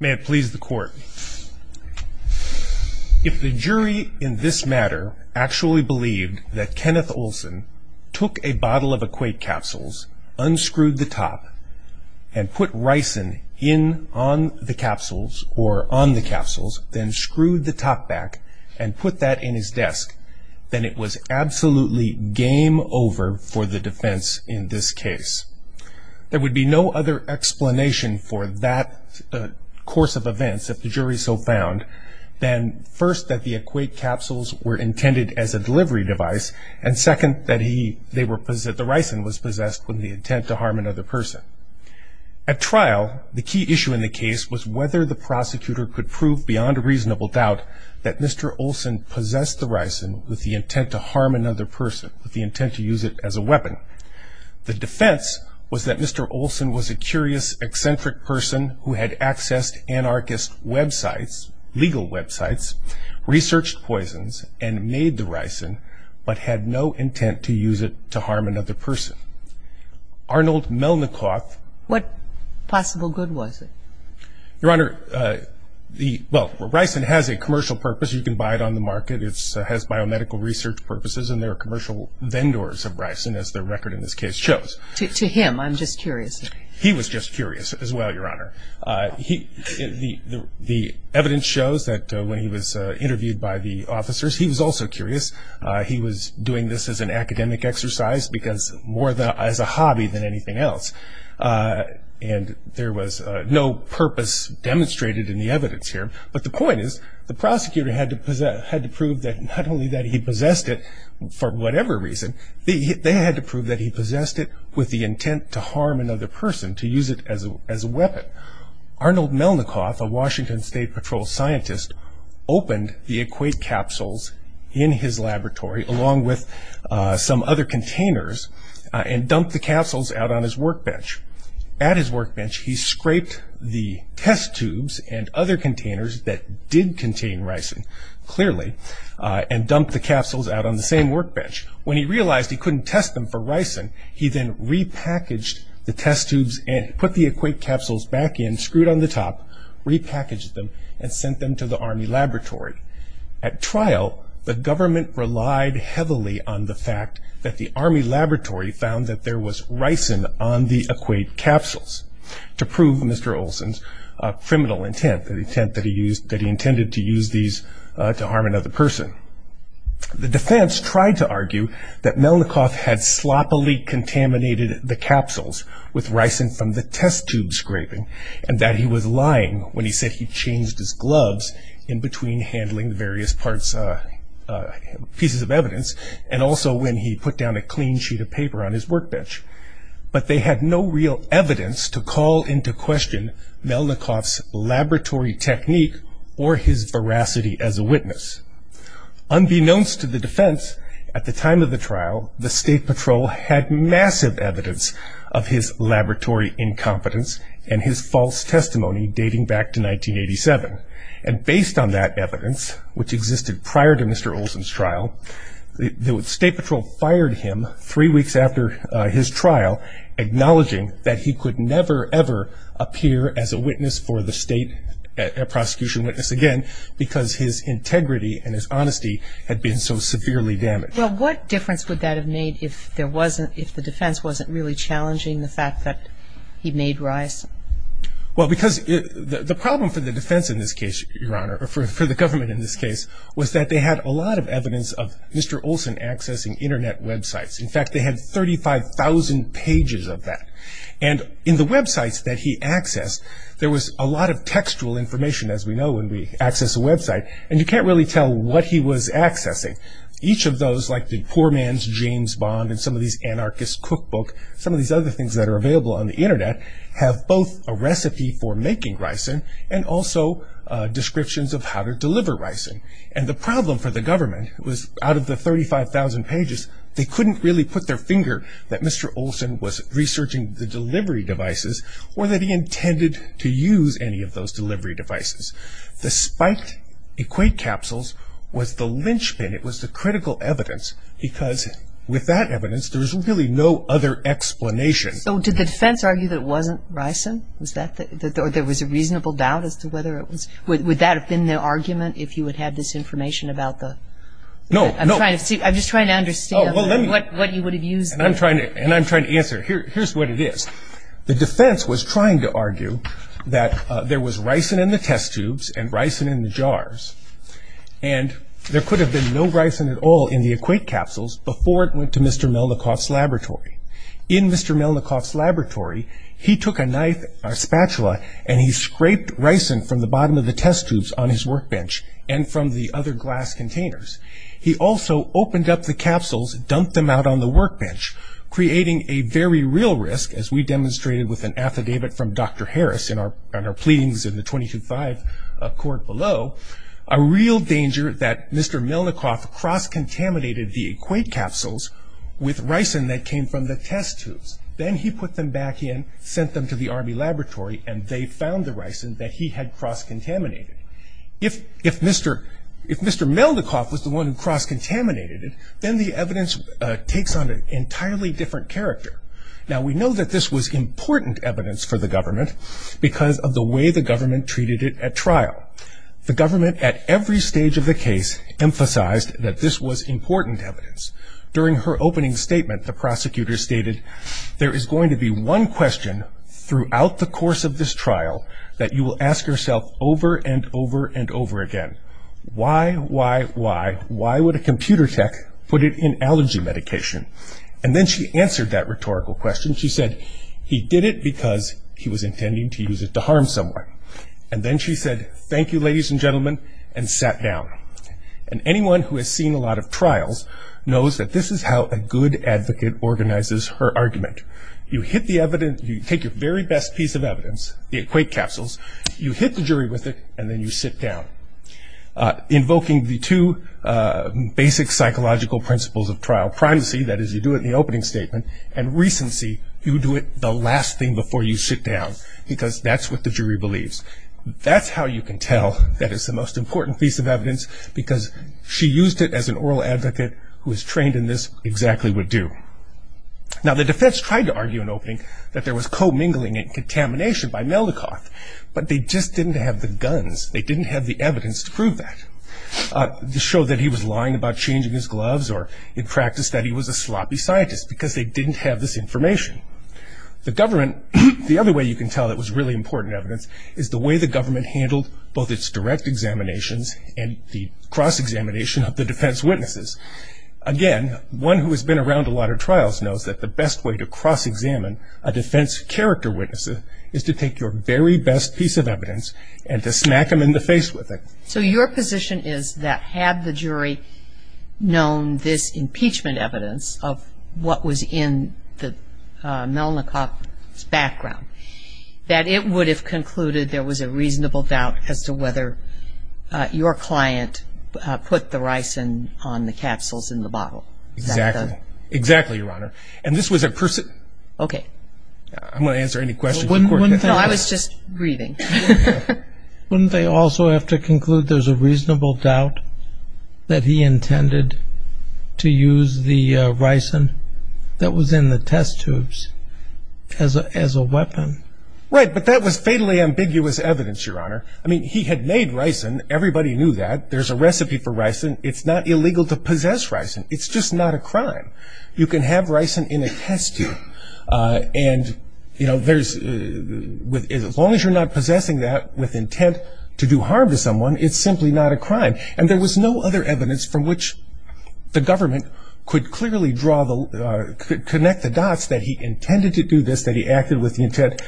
May it please the court If the jury in this matter actually believed that Kenneth Olsen took a bottle of equate capsules unscrewed the top and Put ricin in on the capsules or on the capsules then screwed the top back and put that in his desk Then it was absolutely game over for the defense in this case There would be no other explanation for that course of events if the jury so found then first that the equate capsules were intended as a delivery device and Second that he they were present the ricin was possessed when the intent to harm another person At trial the key issue in the case was whether the prosecutor could prove beyond a reasonable doubt that mr Olsen possessed the ricin with the intent to harm another person with the intent to use it as a weapon The defense was that mr. Olsen was a curious eccentric person who had accessed anarchist websites legal websites Researched poisons and made the ricin but had no intent to use it to harm another person Arnold Melnick off what possible good was it your honor? The well ricin has a commercial purpose. You can buy it on the market It's has biomedical research purposes and their commercial vendors of ricin as the record in this case shows to him. I'm just curious He was just curious as well. Your honor He the the evidence shows that when he was interviewed by the officers. He was also curious He was doing this as an academic exercise because more than as a hobby than anything else And there was no purpose Demonstrated in the evidence here But the point is the prosecutor had to possess had to prove that not only that he possessed it For whatever reason the they had to prove that he possessed it with the intent to harm another person to use it as a weapon Arnold Melnick off a Washington State Patrol scientist Opened the equate capsules in his laboratory along with Some other containers and dumped the capsules out on his workbench at his workbench He scraped the test tubes and other containers that did contain ricin clearly And dumped the capsules out on the same workbench when he realized he couldn't test them for ricin He then repackaged the test tubes and put the equate capsules back in screwed on the top Repackaged them and sent them to the army laboratory at trial The government relied heavily on the fact that the army laboratory found that there was ricin on the equate capsules To prove mr. Olsen's Criminal intent the intent that he used that he intended to use these to harm another person The defense tried to argue that Melnick off had sloppily Contaminated the capsules with ricin from the test tube scraping and that he was lying when he said he changed his gloves in between handling various parts Pieces of evidence and also when he put down a clean sheet of paper on his workbench But they had no real evidence to call into question Melnick off's laboratory technique or his veracity as a witness unbeknownst to the defense at the time of the trial the state patrol had massive evidence of his Laboratory incompetence and his false testimony dating back to 1987 and based on that evidence which existed prior to mr Olsen's trial The state patrol fired him three weeks after his trial Acknowledging that he could never ever appear as a witness for the state Prosecution witness again because his integrity and his honesty had been so severely damaged Well, what difference would that have made if there wasn't if the defense wasn't really challenging the fact that he made rise Well, because the problem for the defense in this case your honor or for the government in this case Was that they had a lot of evidence of mr. Olsen accessing internet websites. In fact, they had 35,000 pages of that and in the websites that he accessed there was a lot of textual information as we know when we access a Website and you can't really tell what he was accessing each of those like the poor man's James Bond and some of these anarchist cookbook some of these other things that are available on the internet have both a recipe for making ricin and also Descriptions of how to deliver ricin and the problem for the government it was out of the 35,000 pages They couldn't really put their finger that mr Olsen was researching the delivery devices or that he intended to use any of those delivery devices the spiked Equate capsules was the lynchpin. It was the critical evidence because with that evidence. There's really no other Explanation so did the defense argue that wasn't ricin was that that there was a reasonable doubt as to whether it was would that have been the argument if you would have this information about the No, I'm trying to see I'm just trying to understand what you would have used and I'm trying to and I'm trying to answer here Here's what it is. The defense was trying to argue that there was ricin in the test tubes and ricin in the jars and There could have been no ricin at all in the equate capsules before it went to mr. Melnikoff's laboratory In mr. Melnikoff's laboratory he took a knife a Spatula and he scraped ricin from the bottom of the test tubes on his workbench and from the other glass containers He also opened up the capsules dumped them out on the workbench Creating a very real risk as we demonstrated with an affidavit from dr Harris in our on our pleadings in the 22-5 court below a real danger that mr Melnikoff cross-contaminated the equate capsules with ricin that came from the test tubes Then he put them back in sent them to the army laboratory and they found the ricin that he had cross-contaminated If if mr. If mr. Melnikoff was the one who cross-contaminated it then the evidence takes on an entirely different character Now we know that this was important evidence for the government because of the way the government treated it at trial The government at every stage of the case Emphasized that this was important evidence during her opening statement. The prosecutor stated there is going to be one question Throughout the course of this trial that you will ask yourself over and over and over again Why why why why would a computer tech put it in allergy medication and then she answered that rhetorical question? He did it because he was intending to use it to harm someone and then she said thank you ladies and gentlemen and sat down and Anyone who has seen a lot of trials knows that this is how a good advocate organizes her argument You hit the evidence you take your very best piece of evidence the equate capsules you hit the jury with it and then you sit down invoking the two Basic psychological principles of trial primacy that is you do it in the opening statement and Recency you do it the last thing before you sit down because that's what the jury believes That's how you can tell that is the most important piece of evidence Because she used it as an oral advocate who is trained in this exactly would do Now the defense tried to argue an opening that there was co-mingling and contamination by Melnikoff But they just didn't have the guns. They didn't have the evidence to prove that To show that he was lying about changing his gloves or in practice that he was a sloppy scientist because they didn't have this information The government the other way you can tell that was really important evidence is the way the government handled both its direct examinations and the cross examination of the defense witnesses Again, one who has been around a lot of trials knows that the best way to cross examine a defense character Witnesses is to take your very best piece of evidence and to smack him in the face with it So your position is that had the jury known this impeachment evidence of what was in the Melnikoff's background that it would have concluded there was a reasonable doubt as to whether your client Put the ricin on the capsules in the bottle exactly exactly your honor, and this was a person, okay? I'm gonna answer any questions. I was just reading Wouldn't they also have to conclude there's a reasonable doubt that he intended To use the ricin that was in the test tubes As a as a weapon right, but that was fatally ambiguous evidence your honor I mean he had made ricin everybody knew that there's a recipe for ricin. It's not illegal to possess ricin It's just not a crime you can have ricin in a test tube and you know there's With as long as you're not possessing that with intent to do harm to someone It's simply not a crime and there was no other evidence from which The government could clearly draw the could connect the dots that he intended to do this that he acted with the intent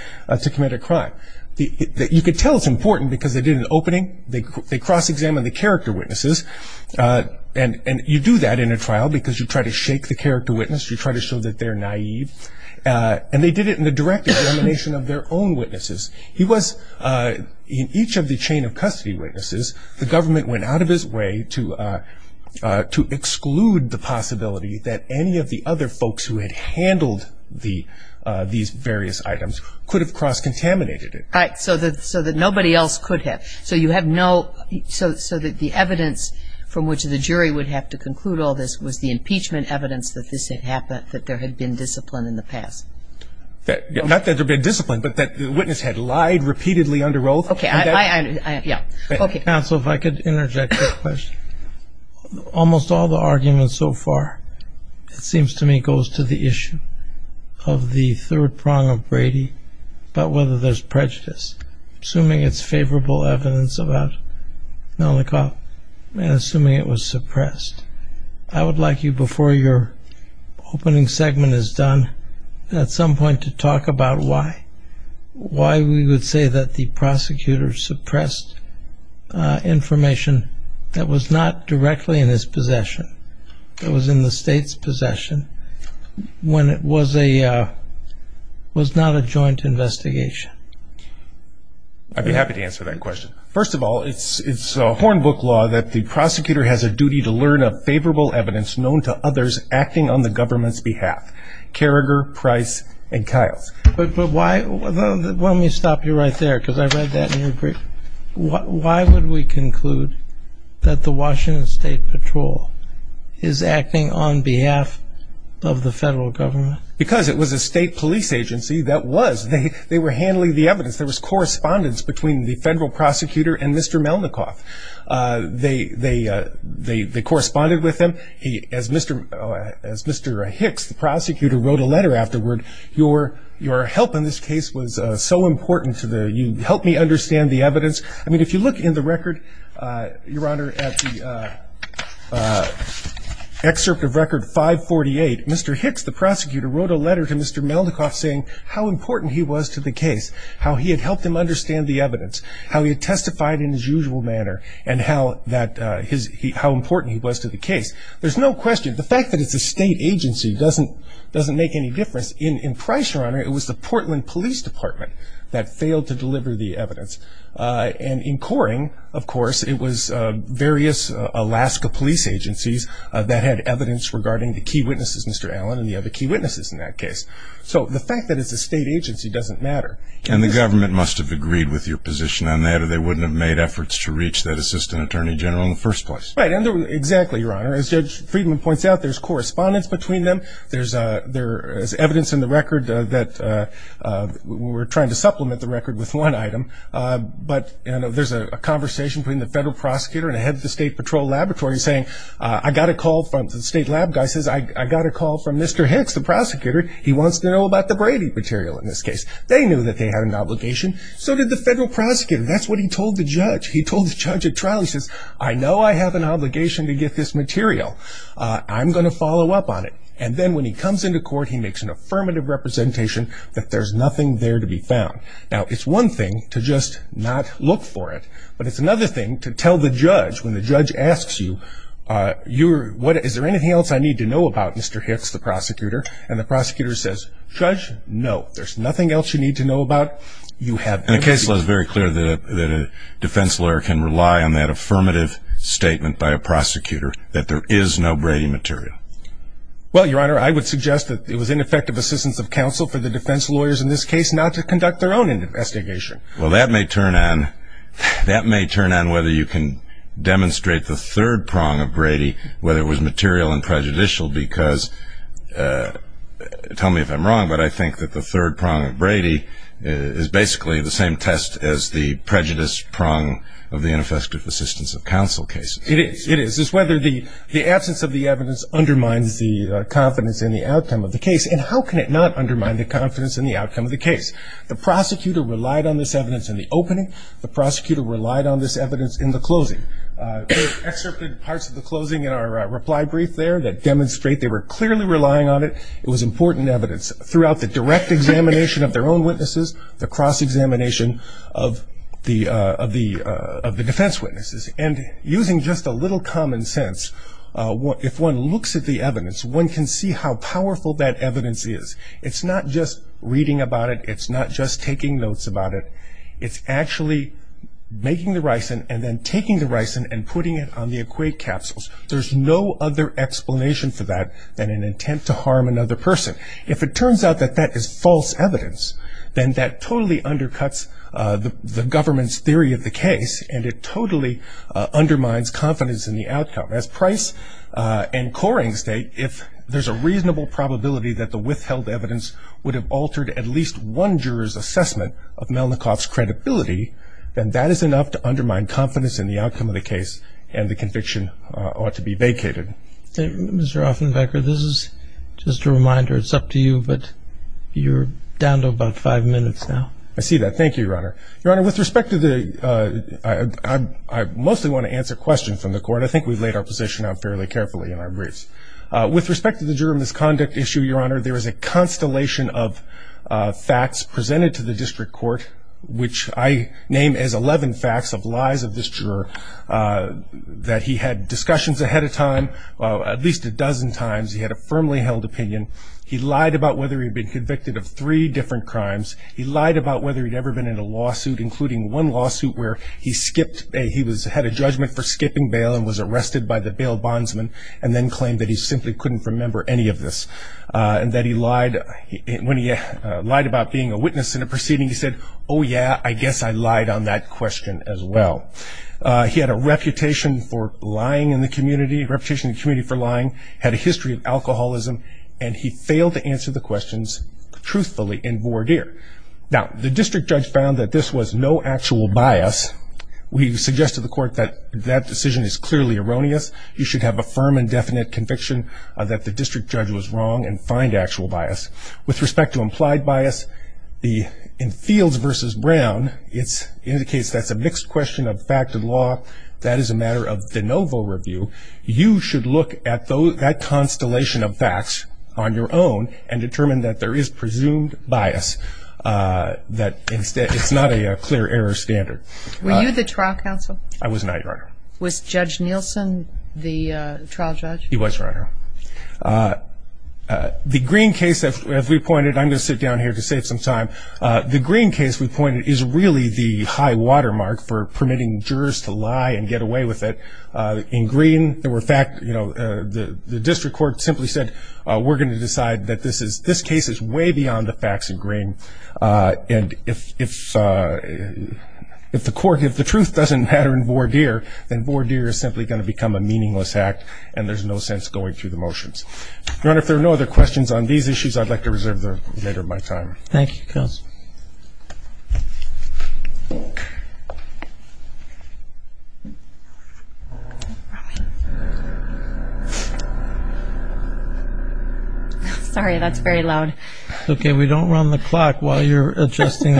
To commit a crime the that you could tell it's important because they did an opening they cross-examine the character witnesses And and you do that in a trial because you try to shake the character witness you try to show that they're naive And they did it in the direct examination of their own witnesses he was In each of the chain of custody witnesses the government went out of his way to to exclude the possibility that any of the other folks who had handled the These various items could have cross-contaminated it right so that so that nobody else could have so you have no So so that the evidence From which the jury would have to conclude all this was the impeachment evidence that this had happened that there had been discipline in the past That not that there'd been discipline, but that the witness had lied repeatedly under oath, okay? Yeah, okay, so if I could interject a question Almost all the arguments so far It seems to me goes to the issue of the third prong of Brady But whether there's prejudice assuming it's favorable evidence about Now the cop and assuming it was suppressed I would like you before your Opening segment is done at some point to talk about why? Why we would say that the prosecutors suppressed? Information that was not directly in his possession. It was in the state's possession when it was a Was not a joint investigation I Be happy to answer that question first of all it's it's a horn book law that the prosecutor has a duty to learn of favorable Evidence known to others acting on the government's behalf Carragher price and Kyle's but why? Let me stop you right there because I read that in your brief Why would we conclude that the Washington State Patrol is? acting on behalf of Because it was a state police agency that was they they were handling the evidence there was correspondence between the federal prosecutor and mr. Melnick off They they they they corresponded with him he as mr. Oh as mr. Hicks the prosecutor wrote a letter afterward your your help in this case was so important to the you help me understand the evidence I mean if you look in the record your honor Excerpt of record 548 mr.. Hicks the prosecutor wrote a letter to mr. Melnick off saying how important he was to the case how he had helped him understand the evidence how he had testified in his usual Manner and how that his how important he was to the case There's no question the fact that it's a state agency doesn't doesn't make any difference in in price your honor It was the Portland Police Department that failed to deliver the evidence And in Coring of course it was various Alaska police agencies that had evidence regarding the key witnesses mr. Allen and the other key witnesses in that case So the fact that it's a state agency doesn't matter and the government must have agreed with your position on that or they wouldn't have Made efforts to reach that assistant attorney general in the first place right under exactly your honor as judge Friedman points out There's correspondence between them. There's a there is evidence in the record that We're trying to supplement the record with one item But you know there's a conversation between the federal prosecutor and a head of the state patrol laboratory saying I got a call from the state Lab guy says I got a call from mr.. Hicks the prosecutor He wants to know about the Brady material in this case. They knew that they had an obligation so did the federal prosecutor That's what he told the judge. He told the judge at trial. He says I know I have an obligation to get this material I'm gonna follow up on it, and then when he comes into court He makes an affirmative representation that there's nothing there to be found now It's one thing to just not look for it, but it's another thing to tell the judge when the judge asks you You're what is there anything else. I need to know about mr. Hicks the prosecutor and the prosecutor says judge no There's nothing else you need to know about you have a case was very clear that a defense lawyer can rely on that affirmative Statement by a prosecutor that there is no Brady material Well your honor. I would suggest that it was ineffective assistance of counsel for the defense lawyers in this case not to conduct their own Investigation well that may turn on that may turn on whether you can demonstrate the third prong of Brady whether it was material and prejudicial because Tell me if I'm wrong But I think that the third prong of Brady Is basically the same test as the prejudice prong of the ineffective assistance of counsel case it is it is is whether the the absence of the evidence Undermines the confidence in the outcome of the case and how can it not undermine the confidence in the outcome of the case? The prosecutor relied on this evidence in the opening the prosecutor relied on this evidence in the closing Parts of the closing in our reply brief there that demonstrate they were clearly relying on it it was important evidence throughout the direct examination of their own witnesses the cross-examination of The of the of the defense witnesses and using just a little common sense What if one looks at the evidence one can see how powerful that evidence is it's not just reading about it It's not just taking notes about it. It's actually Making the ricin and then taking the ricin and putting it on the equate capsules There's no other explanation for that than an intent to harm another person if it turns out that that is false evidence Then that totally undercuts the the government's theory of the case and it totally undermines confidence in the outcome as price And coring state if there's a reasonable probability that the withheld evidence would have altered at least one jurors assessment of Melnikoff's credibility Then that is enough to undermine confidence in the outcome of the case and the conviction ought to be vacated Mr. Offenbecker, this is just a reminder. It's up to you, but you're down to about five minutes now. I see that Thank you, Your Honor, Your Honor with respect to the I Mostly want to answer questions from the court I think we've laid our position out fairly carefully in our briefs with respect to the juror misconduct issue, Your Honor there is a constellation of Facts presented to the district court, which I name as 11 facts of lies of this juror That he had discussions ahead of time at least a dozen times. He had a firmly held opinion He lied about whether he'd been convicted of three different crimes He lied about whether he'd ever been in a lawsuit including one lawsuit where he skipped a he was had a judgment for skipping bail and was arrested by the bail bondsman and then claimed That he simply couldn't remember any of this And that he lied when he lied about being a witness in a proceeding he said oh, yeah I guess I lied on that question as well He had a reputation for lying in the community reputation in the community for lying had a history of alcoholism And he failed to answer the questions Truthfully in voir dire. Now the district judge found that this was no actual bias We've suggested the court that that decision is clearly erroneous You should have a firm and definite conviction that the district judge was wrong and find actual bias with respect to implied bias The in fields versus Brown it's indicates. That's a mixed question of fact and law That is a matter of the novel review You should look at those that constellation of facts on your own and determine that there is presumed bias That instead it's not a clear error standard. Were you the trial counsel? I was not your honor. Was judge Nielsen the trial judge? He was your honor The green case that we pointed I'm gonna sit down here to save some time The green case we pointed is really the high-water mark for permitting jurors to lie and get away with it In green there were fact, you know The the district court simply said we're going to decide that this is this case is way beyond the facts in green and if If If the court if the truth doesn't matter in voir dire Then voir dire is simply going to become a meaningless act and there's no sense going through the motions Your honor if there are no other questions on these issues. I'd like to reserve the later my time. Thank you Sorry That's very loud, okay, we don't run the clock while you're adjusting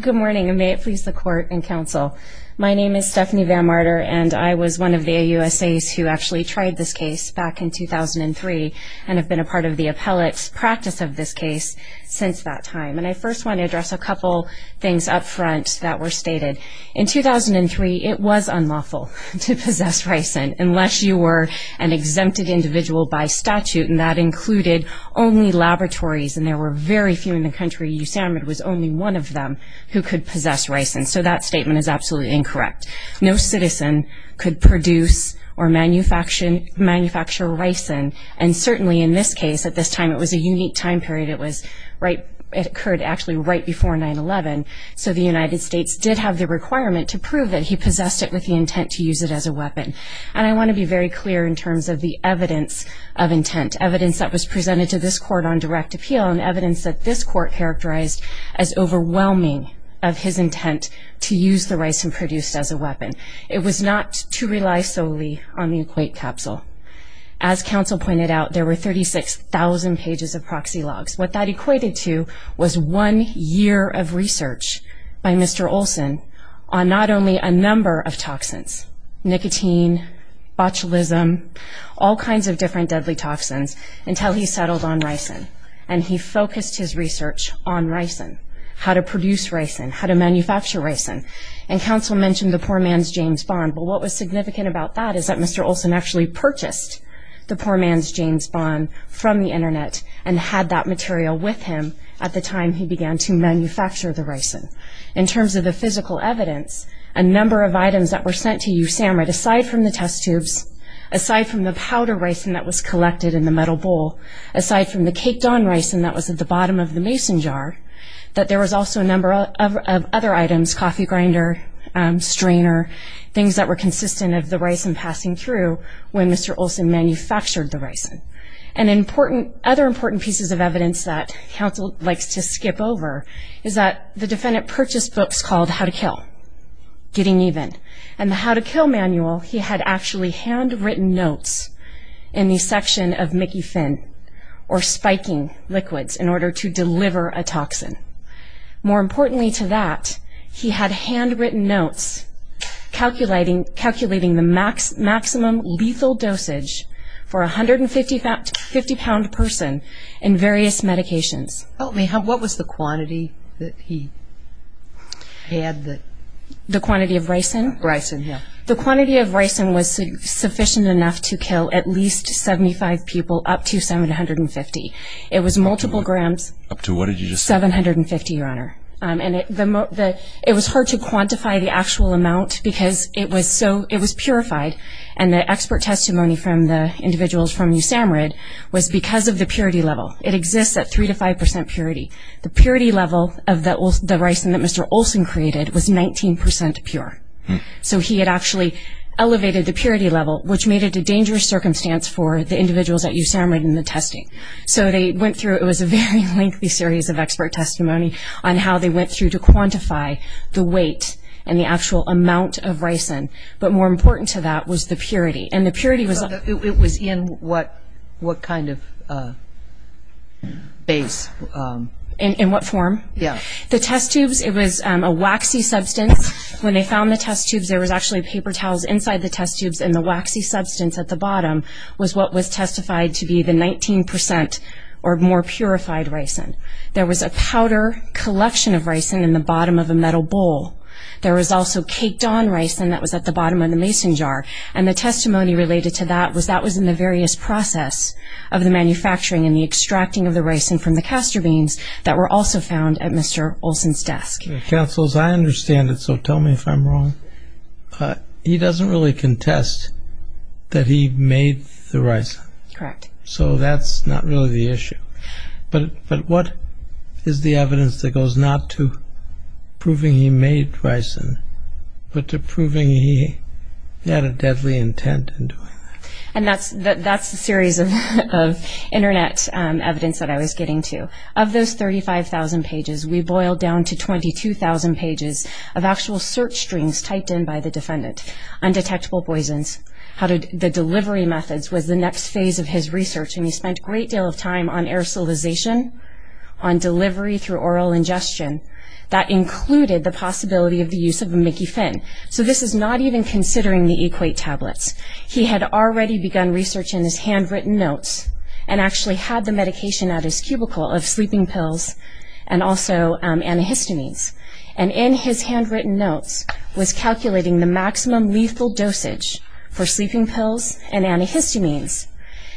Good morning, and may it please the court and counsel My name is Stephanie van Martyr and I was one of the USA's who actually tried this case back in 2003 and have been a part of the appellate's practice of this case Since that time and I first want to address a couple things up front that were stated in 2003 it was unlawful to possess ricin unless you were an Exempted individual by statute and that included only laboratories and there were very few in the country You sound it was only one of them who could possess ricin. So that statement is absolutely incorrect No citizen could produce or manufacture Manufacture ricin and certainly in this case at this time. It was a unique time period It was right it occurred actually right before 9-11 So the United States did have the requirement to prove that he possessed it with the intent to use it as a weapon and I want to be very clear in terms of the evidence of intent evidence that was presented to this court on direct appeal and evidence that this court characterized as Overwhelming of his intent to use the rice and produced as a weapon. It was not to rely solely on the equate capsule as 36,000 pages of proxy logs what that equated to was one year of research by mr Olson on not only a number of toxins nicotine botulism all kinds of different deadly toxins until he settled on rice and and he focused his research on rice and How to produce rice and how to manufacture rice and and counsel mentioned the poor man's James Bond But what was significant about that is that mr Olson actually purchased the poor man's James Bond from the internet and had that material with him at the time He began to manufacture the ricin in terms of the physical evidence a number of items that were sent to you Sam right aside from the test tubes Aside from the powder rice and that was collected in the metal bowl Aside from the caked on rice and that was at the bottom of the mason jar That there was also a number of other items coffee grinder Strainer things that were consistent of the rice and passing through when mr. Olson manufactured the rice and Important other important pieces of evidence that counsel likes to skip over is that the defendant purchased books called how to kill Getting even and how to kill manual. He had actually handwritten notes in the section of Mickey Finn or spiking liquids in order to deliver a toxin More importantly to that he had handwritten notes calculating calculating the max maximum lethal dosage for a hundred and fifty fact fifty pound person in various medications help me how what was the quantity that he Had that the quantity of rice and rice in here the quantity of rice and was Sufficient enough to kill at least 75 people up to 750. It was multiple grams up to what did you just seven hundred and fifty? Your honor and it the moat that it was hard to quantify the actual amount because it was so it was purified and the expert Testimony from the individuals from you Sam read was because of the purity level it exists at three to five percent purity The purity level of that was the rice and that mr. Olson created was 19% pure So he had actually elevated the purity level which made it a dangerous circumstance for the individuals that you sound right in the testing So they went through it was a very lengthy series of expert testimony on how they went through to quantify The weight and the actual amount of ricin but more important to that was the purity and the purity was it was in what? what kind of Base In what form? Yeah, the test tubes It was a waxy substance when they found the test tubes There was actually paper towels inside the test tubes and the waxy substance at the bottom Was what was testified to be the 19% or more purified ricin there was a powder Collection of ricin in the bottom of a metal bowl There was also caked on rice and that was at the bottom of the mason jar and the testimony related to that was that was in the various process of the Manufacturing and the extracting of the rice and from the castor beans that were also found at mr. Olson's desk councils I understand it. So tell me if I'm wrong He doesn't really contest That he made the rice correct, so that's not really the issue But but what is the evidence that goes not to? Proving he made ricin but to proving he had a deadly intent in doing and that's that that's the series of Internet evidence that I was getting to of those 35,000 pages We boiled down to 22,000 pages of actual search strings typed in by the defendant Undetectable poisons how did the delivery methods was the next phase of his research and he spent a great deal of time on aerosolization on delivery through oral ingestion That included the possibility of the use of a mickey fin. So this is not even considering the equate tablets he had already begun research in his handwritten notes and actually had the medication at his cubicle of sleeping pills and Antihistamines and in his handwritten notes was calculating the maximum lethal dosage for sleeping pills and antihistamines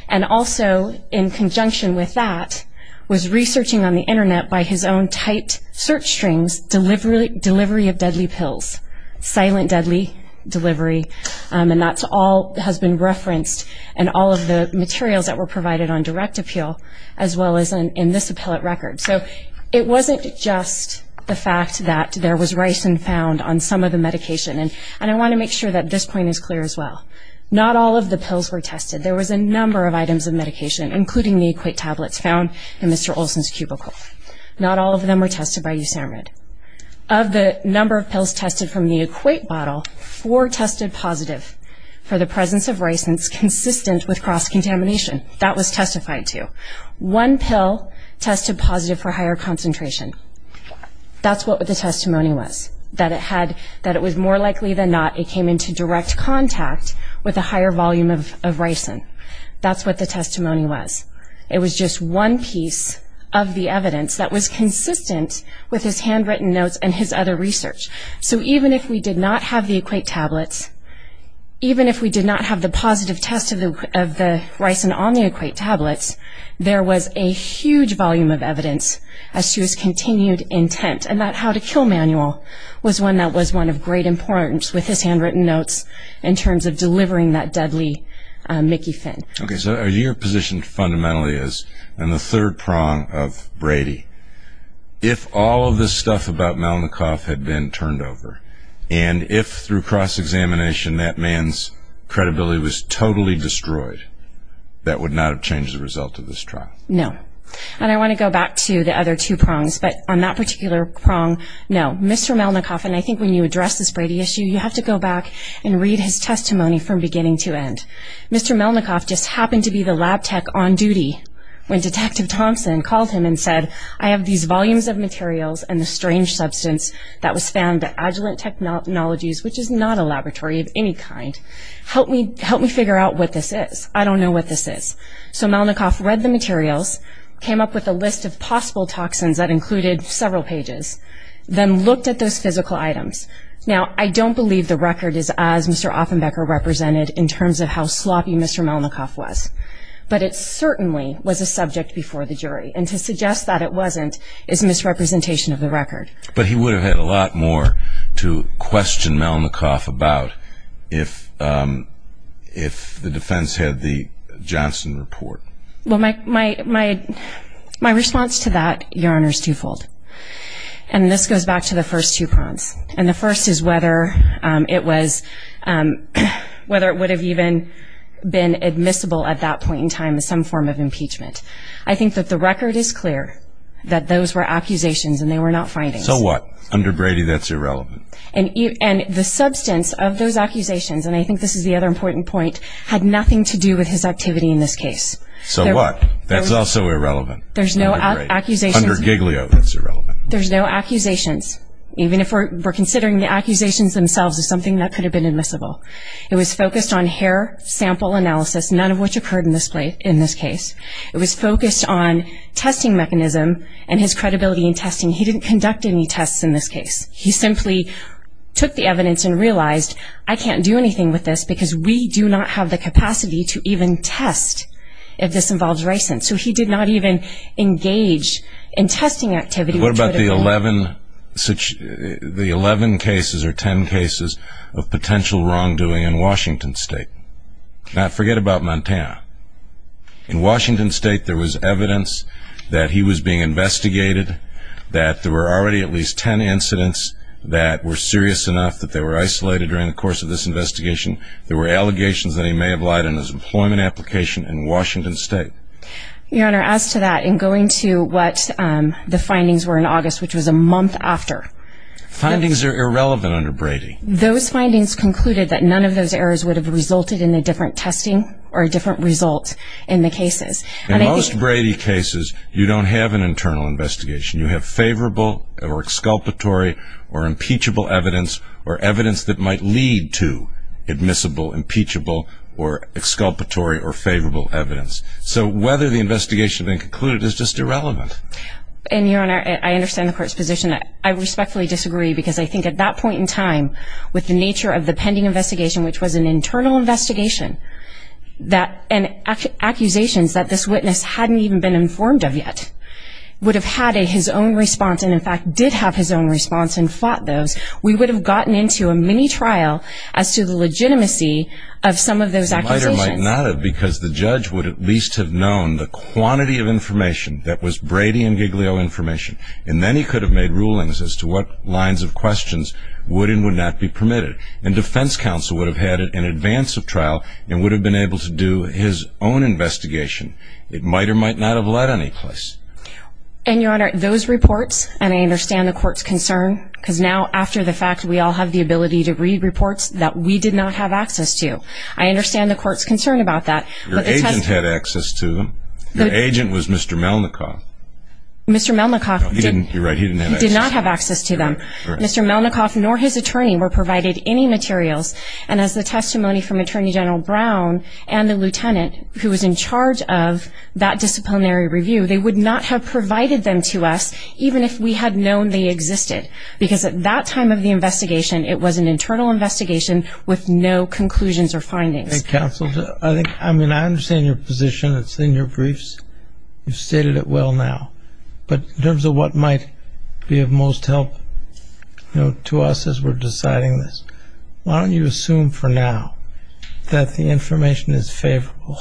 and Also in conjunction with that was researching on the internet by his own tight search strings delivery delivery of deadly pills silent deadly delivery And that's all has been referenced and all of the materials that were provided on direct appeal as well as in this appellate record so it wasn't just The fact that there was rice and found on some of the medication and and I want to make sure that this point is clear As well, not all of the pills were tested. There was a number of items of medication including the equate tablets found in. Mr Olson's cubicle not all of them were tested by you Sam read of The number of pills tested from the equate bottle for tested positive for the presence of rice Consistent with cross-contamination that was testified to one pill tested positive for higher concentration That's what the testimony was that it had that it was more likely than not it came into direct contact With a higher volume of ricin. That's what the testimony was It was just one piece of the evidence that was consistent with his handwritten notes and his other research So even if we did not have the equate tablets Even if we did not have the positive test of the of the rice and on the equate tablets There was a huge volume of evidence as she was continued intent and that how to kill manual Was one that was one of great importance with his handwritten notes in terms of delivering that deadly Mickey Finn, okay So your position fundamentally is and the third prong of Brady If all of this stuff about Melnick off had been turned over and if through cross-examination that man's Credibility was totally destroyed That would not have changed the result of this trial. No, and I want to go back to the other two prongs But on that particular prong no, mr Melnick off and I think when you address this Brady issue you have to go back and read his testimony from beginning to end Mr. Melnick off just happened to be the lab tech on duty when detective Thompson called him and said I have these volumes of materials and the strange substance that was found at Agilent Technologies Which is not a laboratory of any kind help me help me figure out what this is I don't know what this is. So Melnick off read the materials came up with a list of possible toxins that included several pages Then looked at those physical items. Now. I don't believe the record is as mr. Offenbecker represented in terms of how sloppy. Mr Melnick off was but it certainly was a subject before the jury and to suggest that it wasn't is misrepresentation of the record, but he would have had a lot more to question Melnick off about if if the defense had the Johnson report well my my my my response to that your honors twofold and This goes back to the first two prongs and the first is whether it was Whether it would have even been admissible at that point in time as some form of impeachment I think that the record is clear that those were accusations and they were not finding so what under Brady? That's irrelevant and you and the substance of those accusations And I think this is the other important point had nothing to do with his activity in this case So what that's also irrelevant. There's no accusations under Giglio. That's irrelevant There's no accusations, even if we're considering the accusations themselves is something that could have been admissible It was focused on hair sample analysis. None of which occurred in this place in this case It was focused on testing mechanism and his credibility in testing. He didn't conduct any tests in this case. He simply Took the evidence and realized I can't do anything with this because we do not have the capacity to even test if this involves So he did not even engage in testing activity What about the 11 such the 11 cases or 10 cases of potential wrongdoing in Washington State? Now forget about Montana In Washington State there was evidence that he was being investigated That there were already at least 10 incidents that were serious enough that they were isolated during the course of this investigation There were allegations that he may have lied in his employment application in Washington State Your honor as to that in going to what the findings were in August, which was a month after Findings are irrelevant under Brady those findings concluded that none of those errors would have resulted in a different testing or a different result in The cases and in most Brady cases, you don't have an internal investigation you have favorable or exculpatory or impeachable evidence or evidence that might lead to admissible impeachable or Included is just irrelevant And your honor, I understand the court's position I respectfully disagree because I think at that point in time with the nature of the pending investigation, which was an internal investigation that an Accusations that this witness hadn't even been informed of yet Would have had a his own response and in fact did have his own response and fought those We would have gotten into a mini trial as to the legitimacy of some of those Because the judge would at least have known the quantity of information that was Brady and Giglio information and then he could have made rulings as to what lines of questions would and would not be permitted and Defense counsel would have had it in advance of trial and would have been able to do his own Investigation it might or might not have led any place And your honor those reports and I understand the court's concern Because now after the fact we all have the ability to read reports that we did not have access to I understand the court's concern about that. Your agent had access to them. The agent was mr. Melnick off Mr. Melnick off didn't do right. He did not have access to them. Mr Melnick off nor his attorney were provided any materials and as the testimony from Attorney General Brown and the lieutenant who was in charge of That disciplinary review they would not have provided them to us Even if we had known they existed because at that time of the investigation It was an internal investigation with no conclusions or findings counsel. I think I mean, I understand your position. It's in your briefs You've stated it. Well now but in terms of what might be of most help You know to us as we're deciding this. Why don't you assume for now? That the information is favorable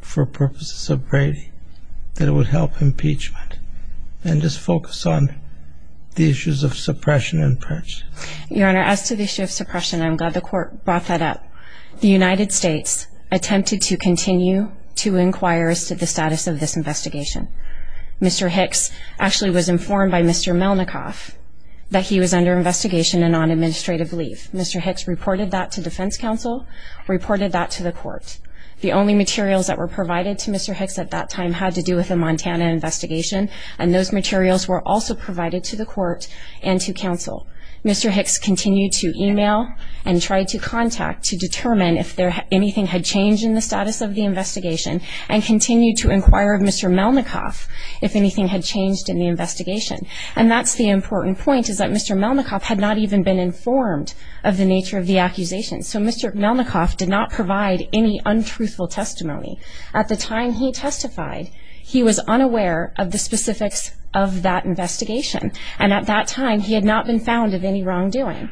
for purposes of Brady that it would help impeachment And just focus on Issues of suppression and purchase your honor as to the issue of suppression. I'm glad the court brought that up the United States Attempted to continue to inquire as to the status of this investigation Mr. Hicks actually was informed by mr. Melnick off that he was under investigation and on administrative leave Mr. Hicks reported that to Defense Council Reported that to the court the only materials that were provided to mr Hicks at that time had to do with a Montana investigation and those materials were also provided to the court and to counsel Mr. Hicks continued to email and tried to contact to determine if there anything had changed in the status of the investigation and Continued to inquire of mr. Melnick off if anything had changed in the investigation and that's the important point Is that mr. Melnick off had not even been informed of the nature of the accusation? So, mr. Melnick off did not provide any untruthful testimony at the time. He testified He was unaware of the specifics of that investigation and at that time he had not been found of any wrongdoing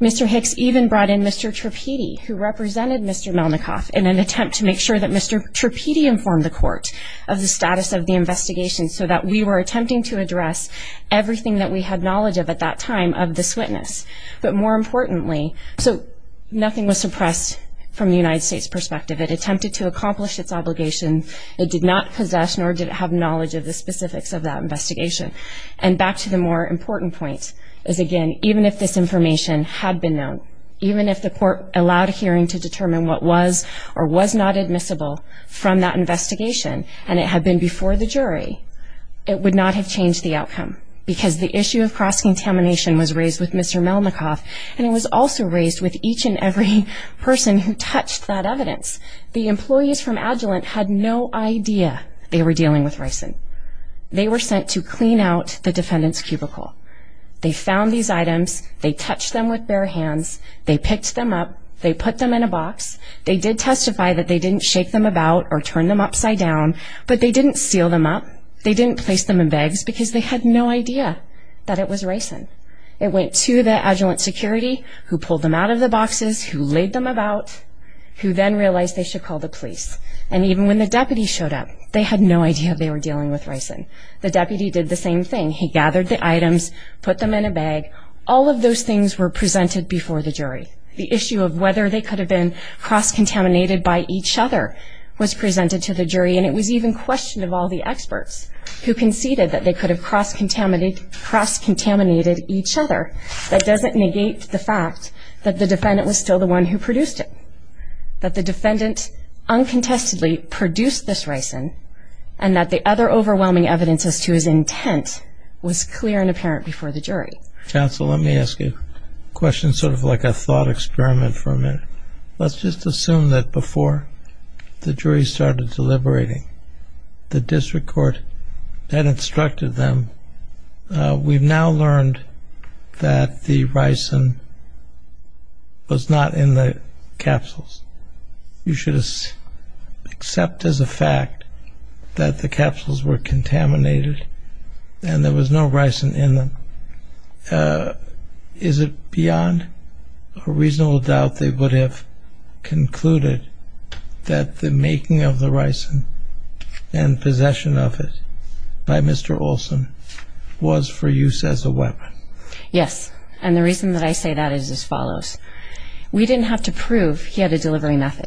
Mr. Hicks even brought in. Mr. Tripedi who represented. Mr Melnick off in an attempt to make sure that mr Tripedi informed the court of the status of the investigation so that we were attempting to address Everything that we had knowledge of at that time of this witness, but more importantly so Nothing was suppressed from the United States perspective. It attempted to accomplish its obligation It did not possess nor did it have knowledge of the specifics of that investigation and back to the more important point is again Even if this information had been known Even if the court allowed a hearing to determine what was or was not admissible from that investigation and it had been before the jury It would not have changed the outcome because the issue of cross-contamination was raised with mr Melnick off and it was also raised with each and every person who touched that evidence the employees from Agilent had no Idea, they were dealing with ricin. They were sent to clean out the defendants cubicle They found these items. They touched them with bare hands. They picked them up. They put them in a box They did testify that they didn't shake them about or turn them upside down, but they didn't seal them up They didn't place them in bags because they had no idea that it was ricin It went to the Agilent security who pulled them out of the boxes who laid them about? Who then realized they should call the police and even when the deputy showed up They had no idea they were dealing with ricin. The deputy did the same thing He gathered the items put them in a bag All of those things were presented before the jury the issue of whether they could have been cross-contaminated by each other Was presented to the jury and it was even questioned of all the experts who conceded that they could have cross-contaminated Cross-contaminated each other that doesn't negate the fact that the defendant was still the one who produced it that the defendant Uncontestedly produced this ricin and that the other overwhelming evidence as to his intent was clear and apparent before the jury Counsel, let me ask you a question sort of like a thought experiment for a minute. Let's just assume that before The jury started deliberating The district court had instructed them We've now learned that the ricin Was not in the capsules you should Accept as a fact that the capsules were contaminated and there was no ricin in them Is it beyond a reasonable doubt they would have Concluded that the making of the ricin and Possession of it by mr. Olson was for use as a weapon Yes, and the reason that I say that is as follows We didn't have to prove he had a delivery method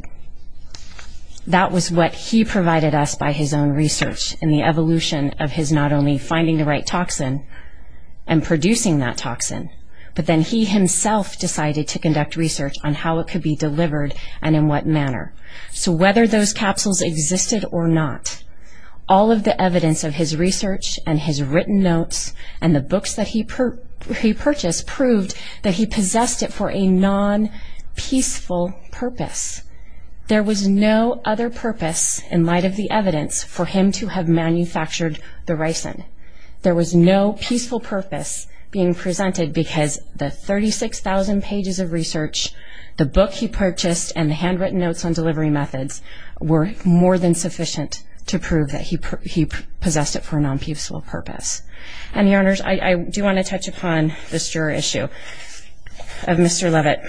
that was what he provided us by his own research in the evolution of his not only finding the right toxin and Producing that toxin, but then he himself decided to conduct research on how it could be delivered and in what manner so whether those capsules existed or not all of the evidence of his research and his written notes and the books that he Purchased proved that he possessed it for a non peaceful purpose There was no other purpose in light of the evidence for him to have manufactured the ricin There was no peaceful purpose being presented because the 36,000 pages of research The book he purchased and the handwritten notes on delivery methods Were more than sufficient to prove that he possessed it for a non-peaceful purpose and your honors I do want to touch upon this juror issue of mr. Levitt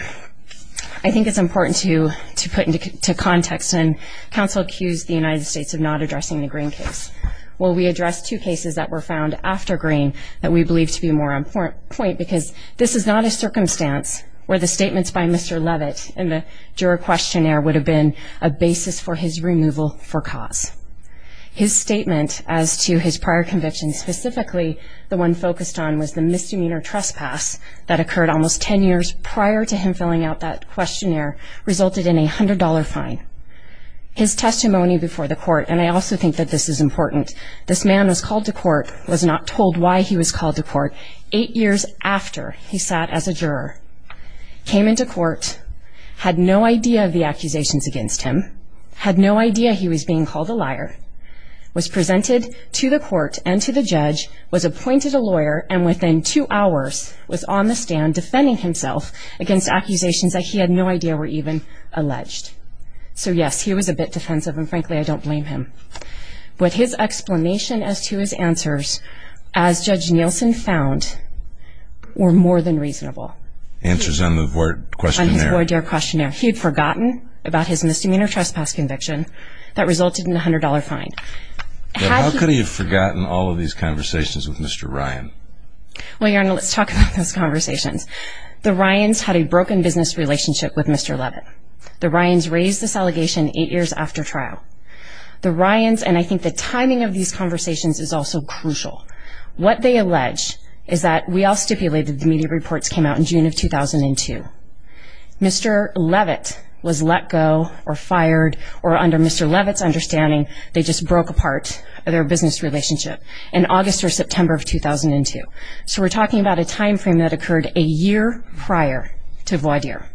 I Think it's important to to put into context and counsel accused the United States of not addressing the green case Will we address two cases that were found after green that we believe to be more important point because this is not a Circumstance where the statements by mr. Levitt and the juror questionnaire would have been a basis for his removal for cause His statement as to his prior convictions specifically the one focused on was the misdemeanor trespass That occurred almost ten years prior to him filling out that questionnaire resulted in a hundred dollar fine His testimony before the court and I also think that this is important This man was called to court was not told why he was called to court eight years after he sat as a juror Came into court Had no idea of the accusations against him had no idea. He was being called a liar Was presented to the court and to the judge was appointed a lawyer and within two hours was on the stand defending himself Against accusations that he had no idea were even alleged So yes, he was a bit defensive and frankly, I don't blame him but his explanation as to his answers as Judge Nielsen found Were more than reasonable answers on the word question board your questionnaire He had forgotten about his misdemeanor trespass conviction that resulted in a hundred dollar fine How could he have forgotten all of these conversations with? Mr. Ryan? Well, you know, let's talk about those conversations the Ryan's had a broken business relationship with mr Levitt the Ryan's raised this allegation eight years after trial The Ryan's and I think the timing of these conversations is also crucial What they allege is that we all stipulated the media reports came out in June of 2002 Mr. Levitt was let go or fired or under mr. Levitt's understanding They just broke apart or their business relationship in August or September of 2002 So we're talking about a time frame that occurred a year prior to voir dire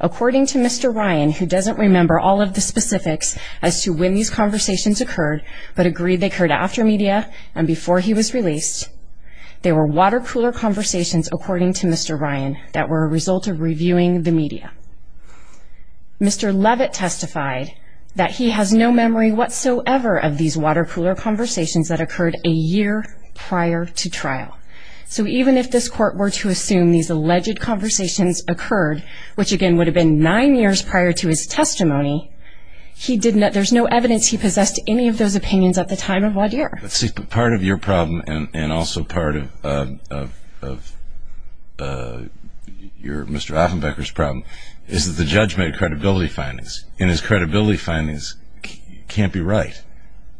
According to mr. Ryan who doesn't remember all of the specifics as to when these conversations occurred But agreed they could after media and before he was released There were water cooler conversations according to mr. Ryan that were a result of reviewing the media Mr. Levitt testified that he has no memory whatsoever of these water cooler conversations that occurred a year prior to trial So even if this court were to assume these alleged conversations occurred, which again would have been nine years prior to his testimony He did not there's no evidence He possessed any of those opinions at the time of voir dire. Let's see part of your problem and also part of Your mr. Offenbecker's problem is that the judge made credibility findings in his credibility findings Can't be right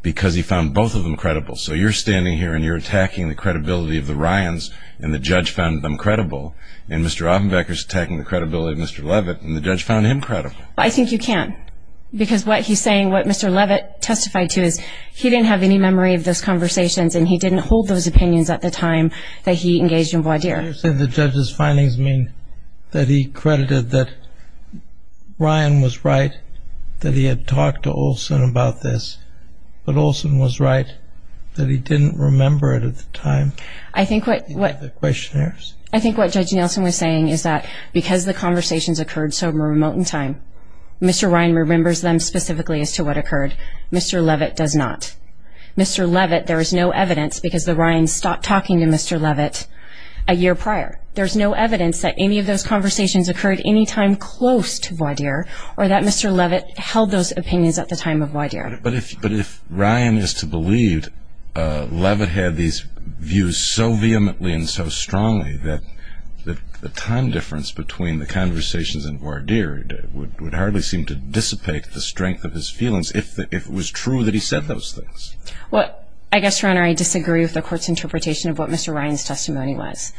because he found both of them credible So you're standing here and you're attacking the credibility of the Ryan's and the judge found them credible and mr Offenbecker's attacking the credibility of mr. Levitt and the judge found him credible. I think you can't because what he's saying what mr Levitt testified to is he didn't have any memory of those conversations and he didn't hold those opinions at the time that he engaged in voir dire said the judge's findings mean that he credited that Ryan was right that he had talked to Olsen about this, but Olsen was right He didn't remember it at the time. I think what what the questionnaires? I think what judge Nelson was saying is that because the conversations occurred so remote in time Mr. Ryan remembers them specifically as to what occurred. Mr. Levitt does not Mr. Levitt, there is no evidence because the Ryan stopped talking to mr. Levitt a year prior There's no evidence that any of those conversations occurred any time close to voir dire or that mr Levitt held those opinions at the time of voir dire, but if but if Ryan is to believed Levitt had these views so vehemently and so strongly that that the time difference between the Conversations and voir dire would hardly seem to dissipate the strength of his feelings if it was true that he said those things Well, I guess your honor. I disagree with the court's interpretation of what mr. Ryan's testimony was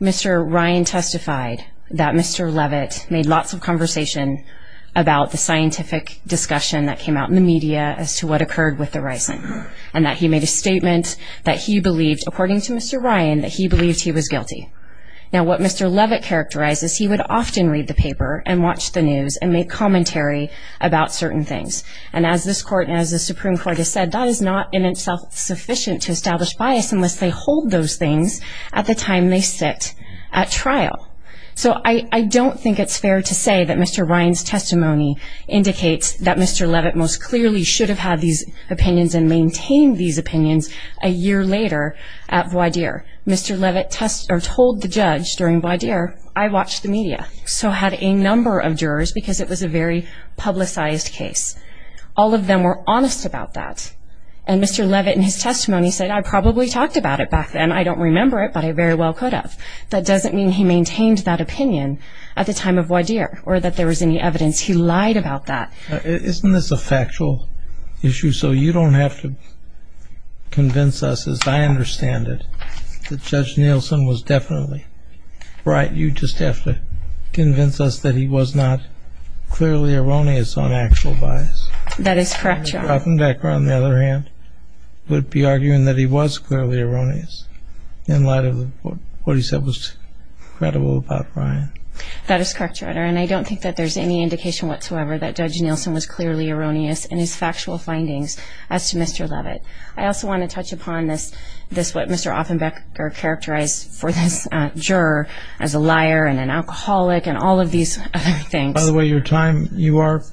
Mr. Ryan testified that mr. Levitt made lots of conversation about the scientific Discussion that came out in the media as to what occurred with the rising and that he made a statement That he believed according to mr. Ryan that he believed he was guilty Now what mr. Levitt characterizes he would often read the paper and watch the news and make commentary About certain things and as this court and as the Supreme Court has said that is not in itself Sufficient to establish bias unless they hold those things at the time they sit at trial So I I don't think it's fair to say that mr. Ryan's testimony Indicates that mr. Levitt most clearly should have had these opinions and maintained these opinions a year later at voir dire Mr. Levitt test or told the judge during voir dire I watched the media so had a number of jurors because it was a very publicized case All of them were honest about that and mr. Levitt in his testimony said I probably talked about it back then I don't remember it But I very well could have that doesn't mean he maintained that opinion at the time of voir dire or that there was any evidence He lied about that. Isn't this a factual issue? So you don't have to Convince us as I understand it the judge Nielsen was definitely Right. You just have to convince us that he was not Clearly erroneous on actual bias. That is correct. You're talking back on the other hand Would be arguing that he was clearly erroneous in light of what he said was Credible about Ryan that is correct your honor And I don't think that there's any indication whatsoever that judge Nielsen was clearly erroneous and his factual findings as to mr Levitt I also want to touch upon this this what mr. Offenbeck are characterized for this Juror as a liar and an alcoholic and all of these other things the way your time you are.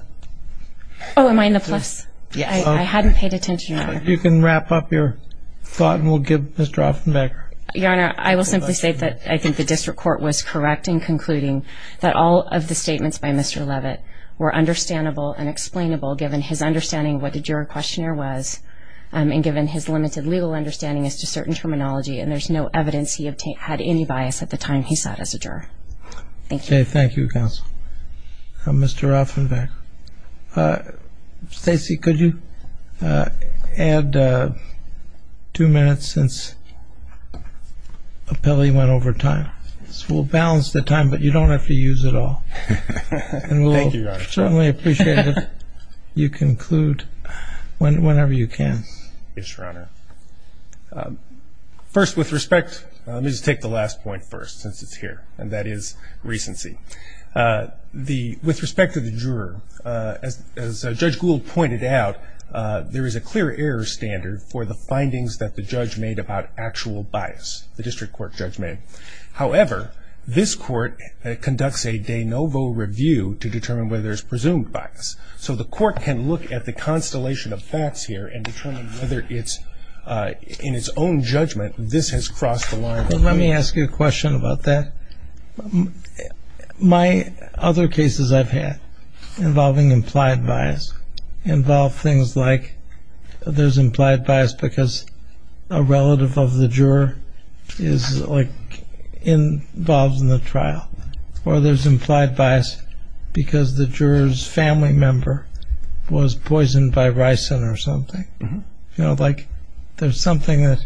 Oh Am I in the place? Yeah, I hadn't paid attention. You can wrap up your thought and we'll give mr. Offenbeck your honor I will simply state that I think the district court was correct in concluding that all of the statements by mr Levitt were understandable and explainable given his understanding. What did your questionnaire was? And given his limited legal understanding as to certain terminology and there's no evidence He had any bias at the time. He sat as a juror Thank you. Thank you counsel mr. Offenbeck Stacy could you add Two minutes since Appellee went over time. This will balance the time, but you don't have to use it all Certainly appreciate it you conclude when whenever you can. Yes, your honor First with respect, let me just take the last point first since it's here and that is recency The with respect to the juror as Judge Gould pointed out There is a clear error standard for the findings that the judge made about actual bias the district court judgment However, this court conducts a de novo review to determine whether there's presumed bias so the court can look at the constellation of facts here and determine whether it's In its own judgment. This has crossed the line. Let me ask you a question about that My other cases I've had involving implied bias Involve things like there's implied bias because a relative of the juror is like Involves in the trial or there's implied bias Because the jurors family member was poisoned by ricin or something, you know, like there's something that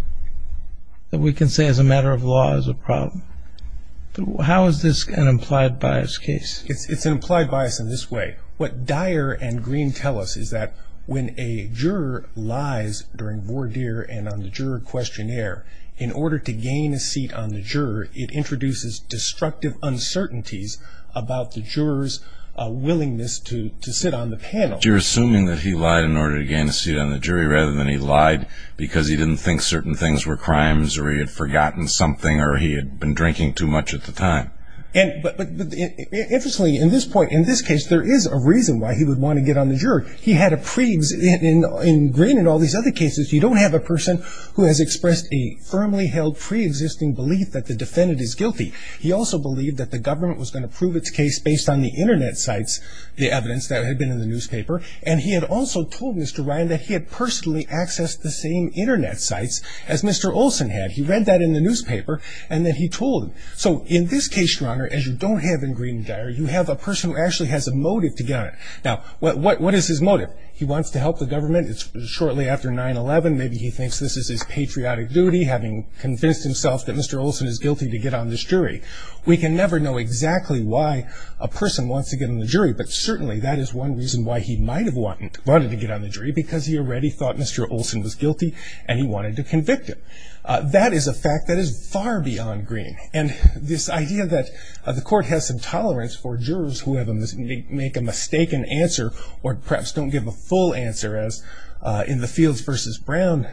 That we can say as a matter of law as a problem How is this an implied bias case it's it's an implied bias in this way What Dyer and green tell us is that when a juror lies? During voir dire and on the juror questionnaire in order to gain a seat on the juror it introduces destructive uncertainties about the jurors Willingness to to sit on the panel You're assuming that he lied in order to gain a seat on the jury rather than he lied Because he didn't think certain things were crimes or he had forgotten something or he had been drinking too much at the time and Interestingly in this point in this case, there is a reason why he would want to get on the juror He had a previous in in green and all these other cases You don't have a person who has expressed a firmly held pre-existing belief that the defendant is guilty He also believed that the government was going to prove its case based on the internet sites The evidence that had been in the newspaper and he had also told mr. Ryan that he had personally accessed the same internet sites as mr. Olson had he read that in the newspaper and then he told him so in this case your honor as you don't have in green Dyer you have a person who actually has a motive to get it. Now. What what what is his motive? He wants to help the government. It's shortly after 9-eleven. Maybe he thinks this is his patriotic duty having convinced himself that mr Olson is guilty to get on this jury We can never know exactly why a person wants to get in the jury But certainly that is one reason why he might have wanted wanted to get on the jury because he already thought mr Olson was guilty and he wanted to convict him That is a fact that is far beyond green and this idea that the court has some tolerance for jurors Who have them make a mistaken answer or perhaps don't give a full answer as in the fields versus Brown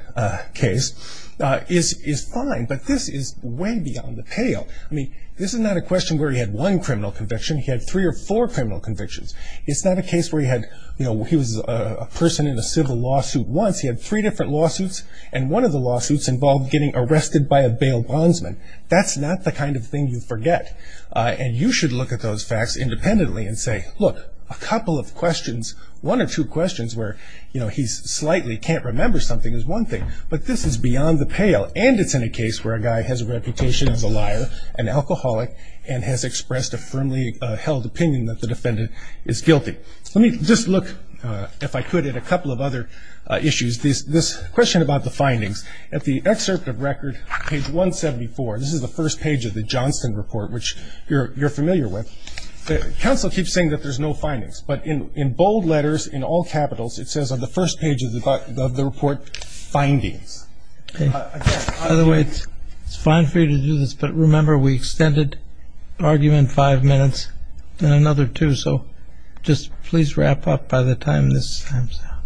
Case Is is fine, but this is way beyond the pale I mean, this is not a question where he had one criminal conviction. He had three or four criminal convictions It's not a case where he had you know, he was a person in a civil lawsuit once He had three different lawsuits and one of the lawsuits involved getting arrested by a bail bondsman That's not the kind of thing you forget And you should look at those facts independently and say look a couple of questions One or two questions where you know, he's slightly can't remember something is one thing but this is beyond the pale and it's in a case where a guy has a reputation as a liar an Alcoholic and has expressed a firmly held opinion that the defendant is guilty Let me just look if I could at a couple of other Issues this this question about the findings at the excerpt of record page 174 This is the first page of the Johnston report, which you're you're familiar with Counsel keeps saying that there's no findings but in in bold letters in all capitals It says on the first page of the button of the report findings By the way, it's it's fine for you to do this. But remember we extended Argument five minutes and another two. So just please wrap up by the time this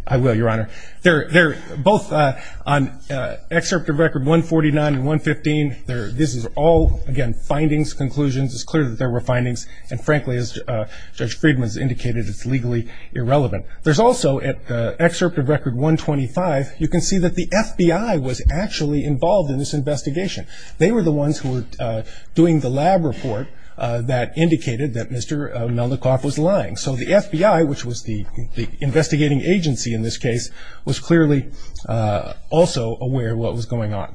I will your honor They're they're both on Excerpt of record 149 and 115 there. This is all again findings conclusions It's clear that there were findings and frankly as Judge Friedman's indicated. It's legally irrelevant There's also at the excerpt of record 125. You can see that the FBI was actually involved in this investigation They were the ones who were doing the lab report that indicated that mr Melnick off was lying. So the FBI which was the investigating agency in this case was clearly Also aware what was going on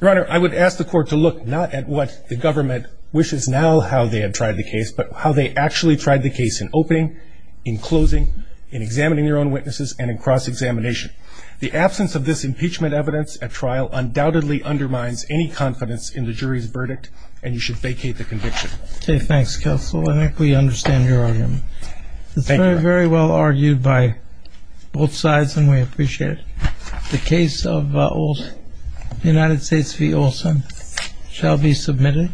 Your honor I would ask the court to look not at what the government wishes now how they have tried the case But how they actually tried the case in opening in closing in examining their own witnesses and in cross-examination The absence of this impeachment evidence at trial undoubtedly undermines any confidence in the jury's verdict and you should vacate the conviction Okay. Thanks counsel. I think we understand your argument very well argued by Both sides and we appreciate it the case of old United States v. Olson Shall be submitted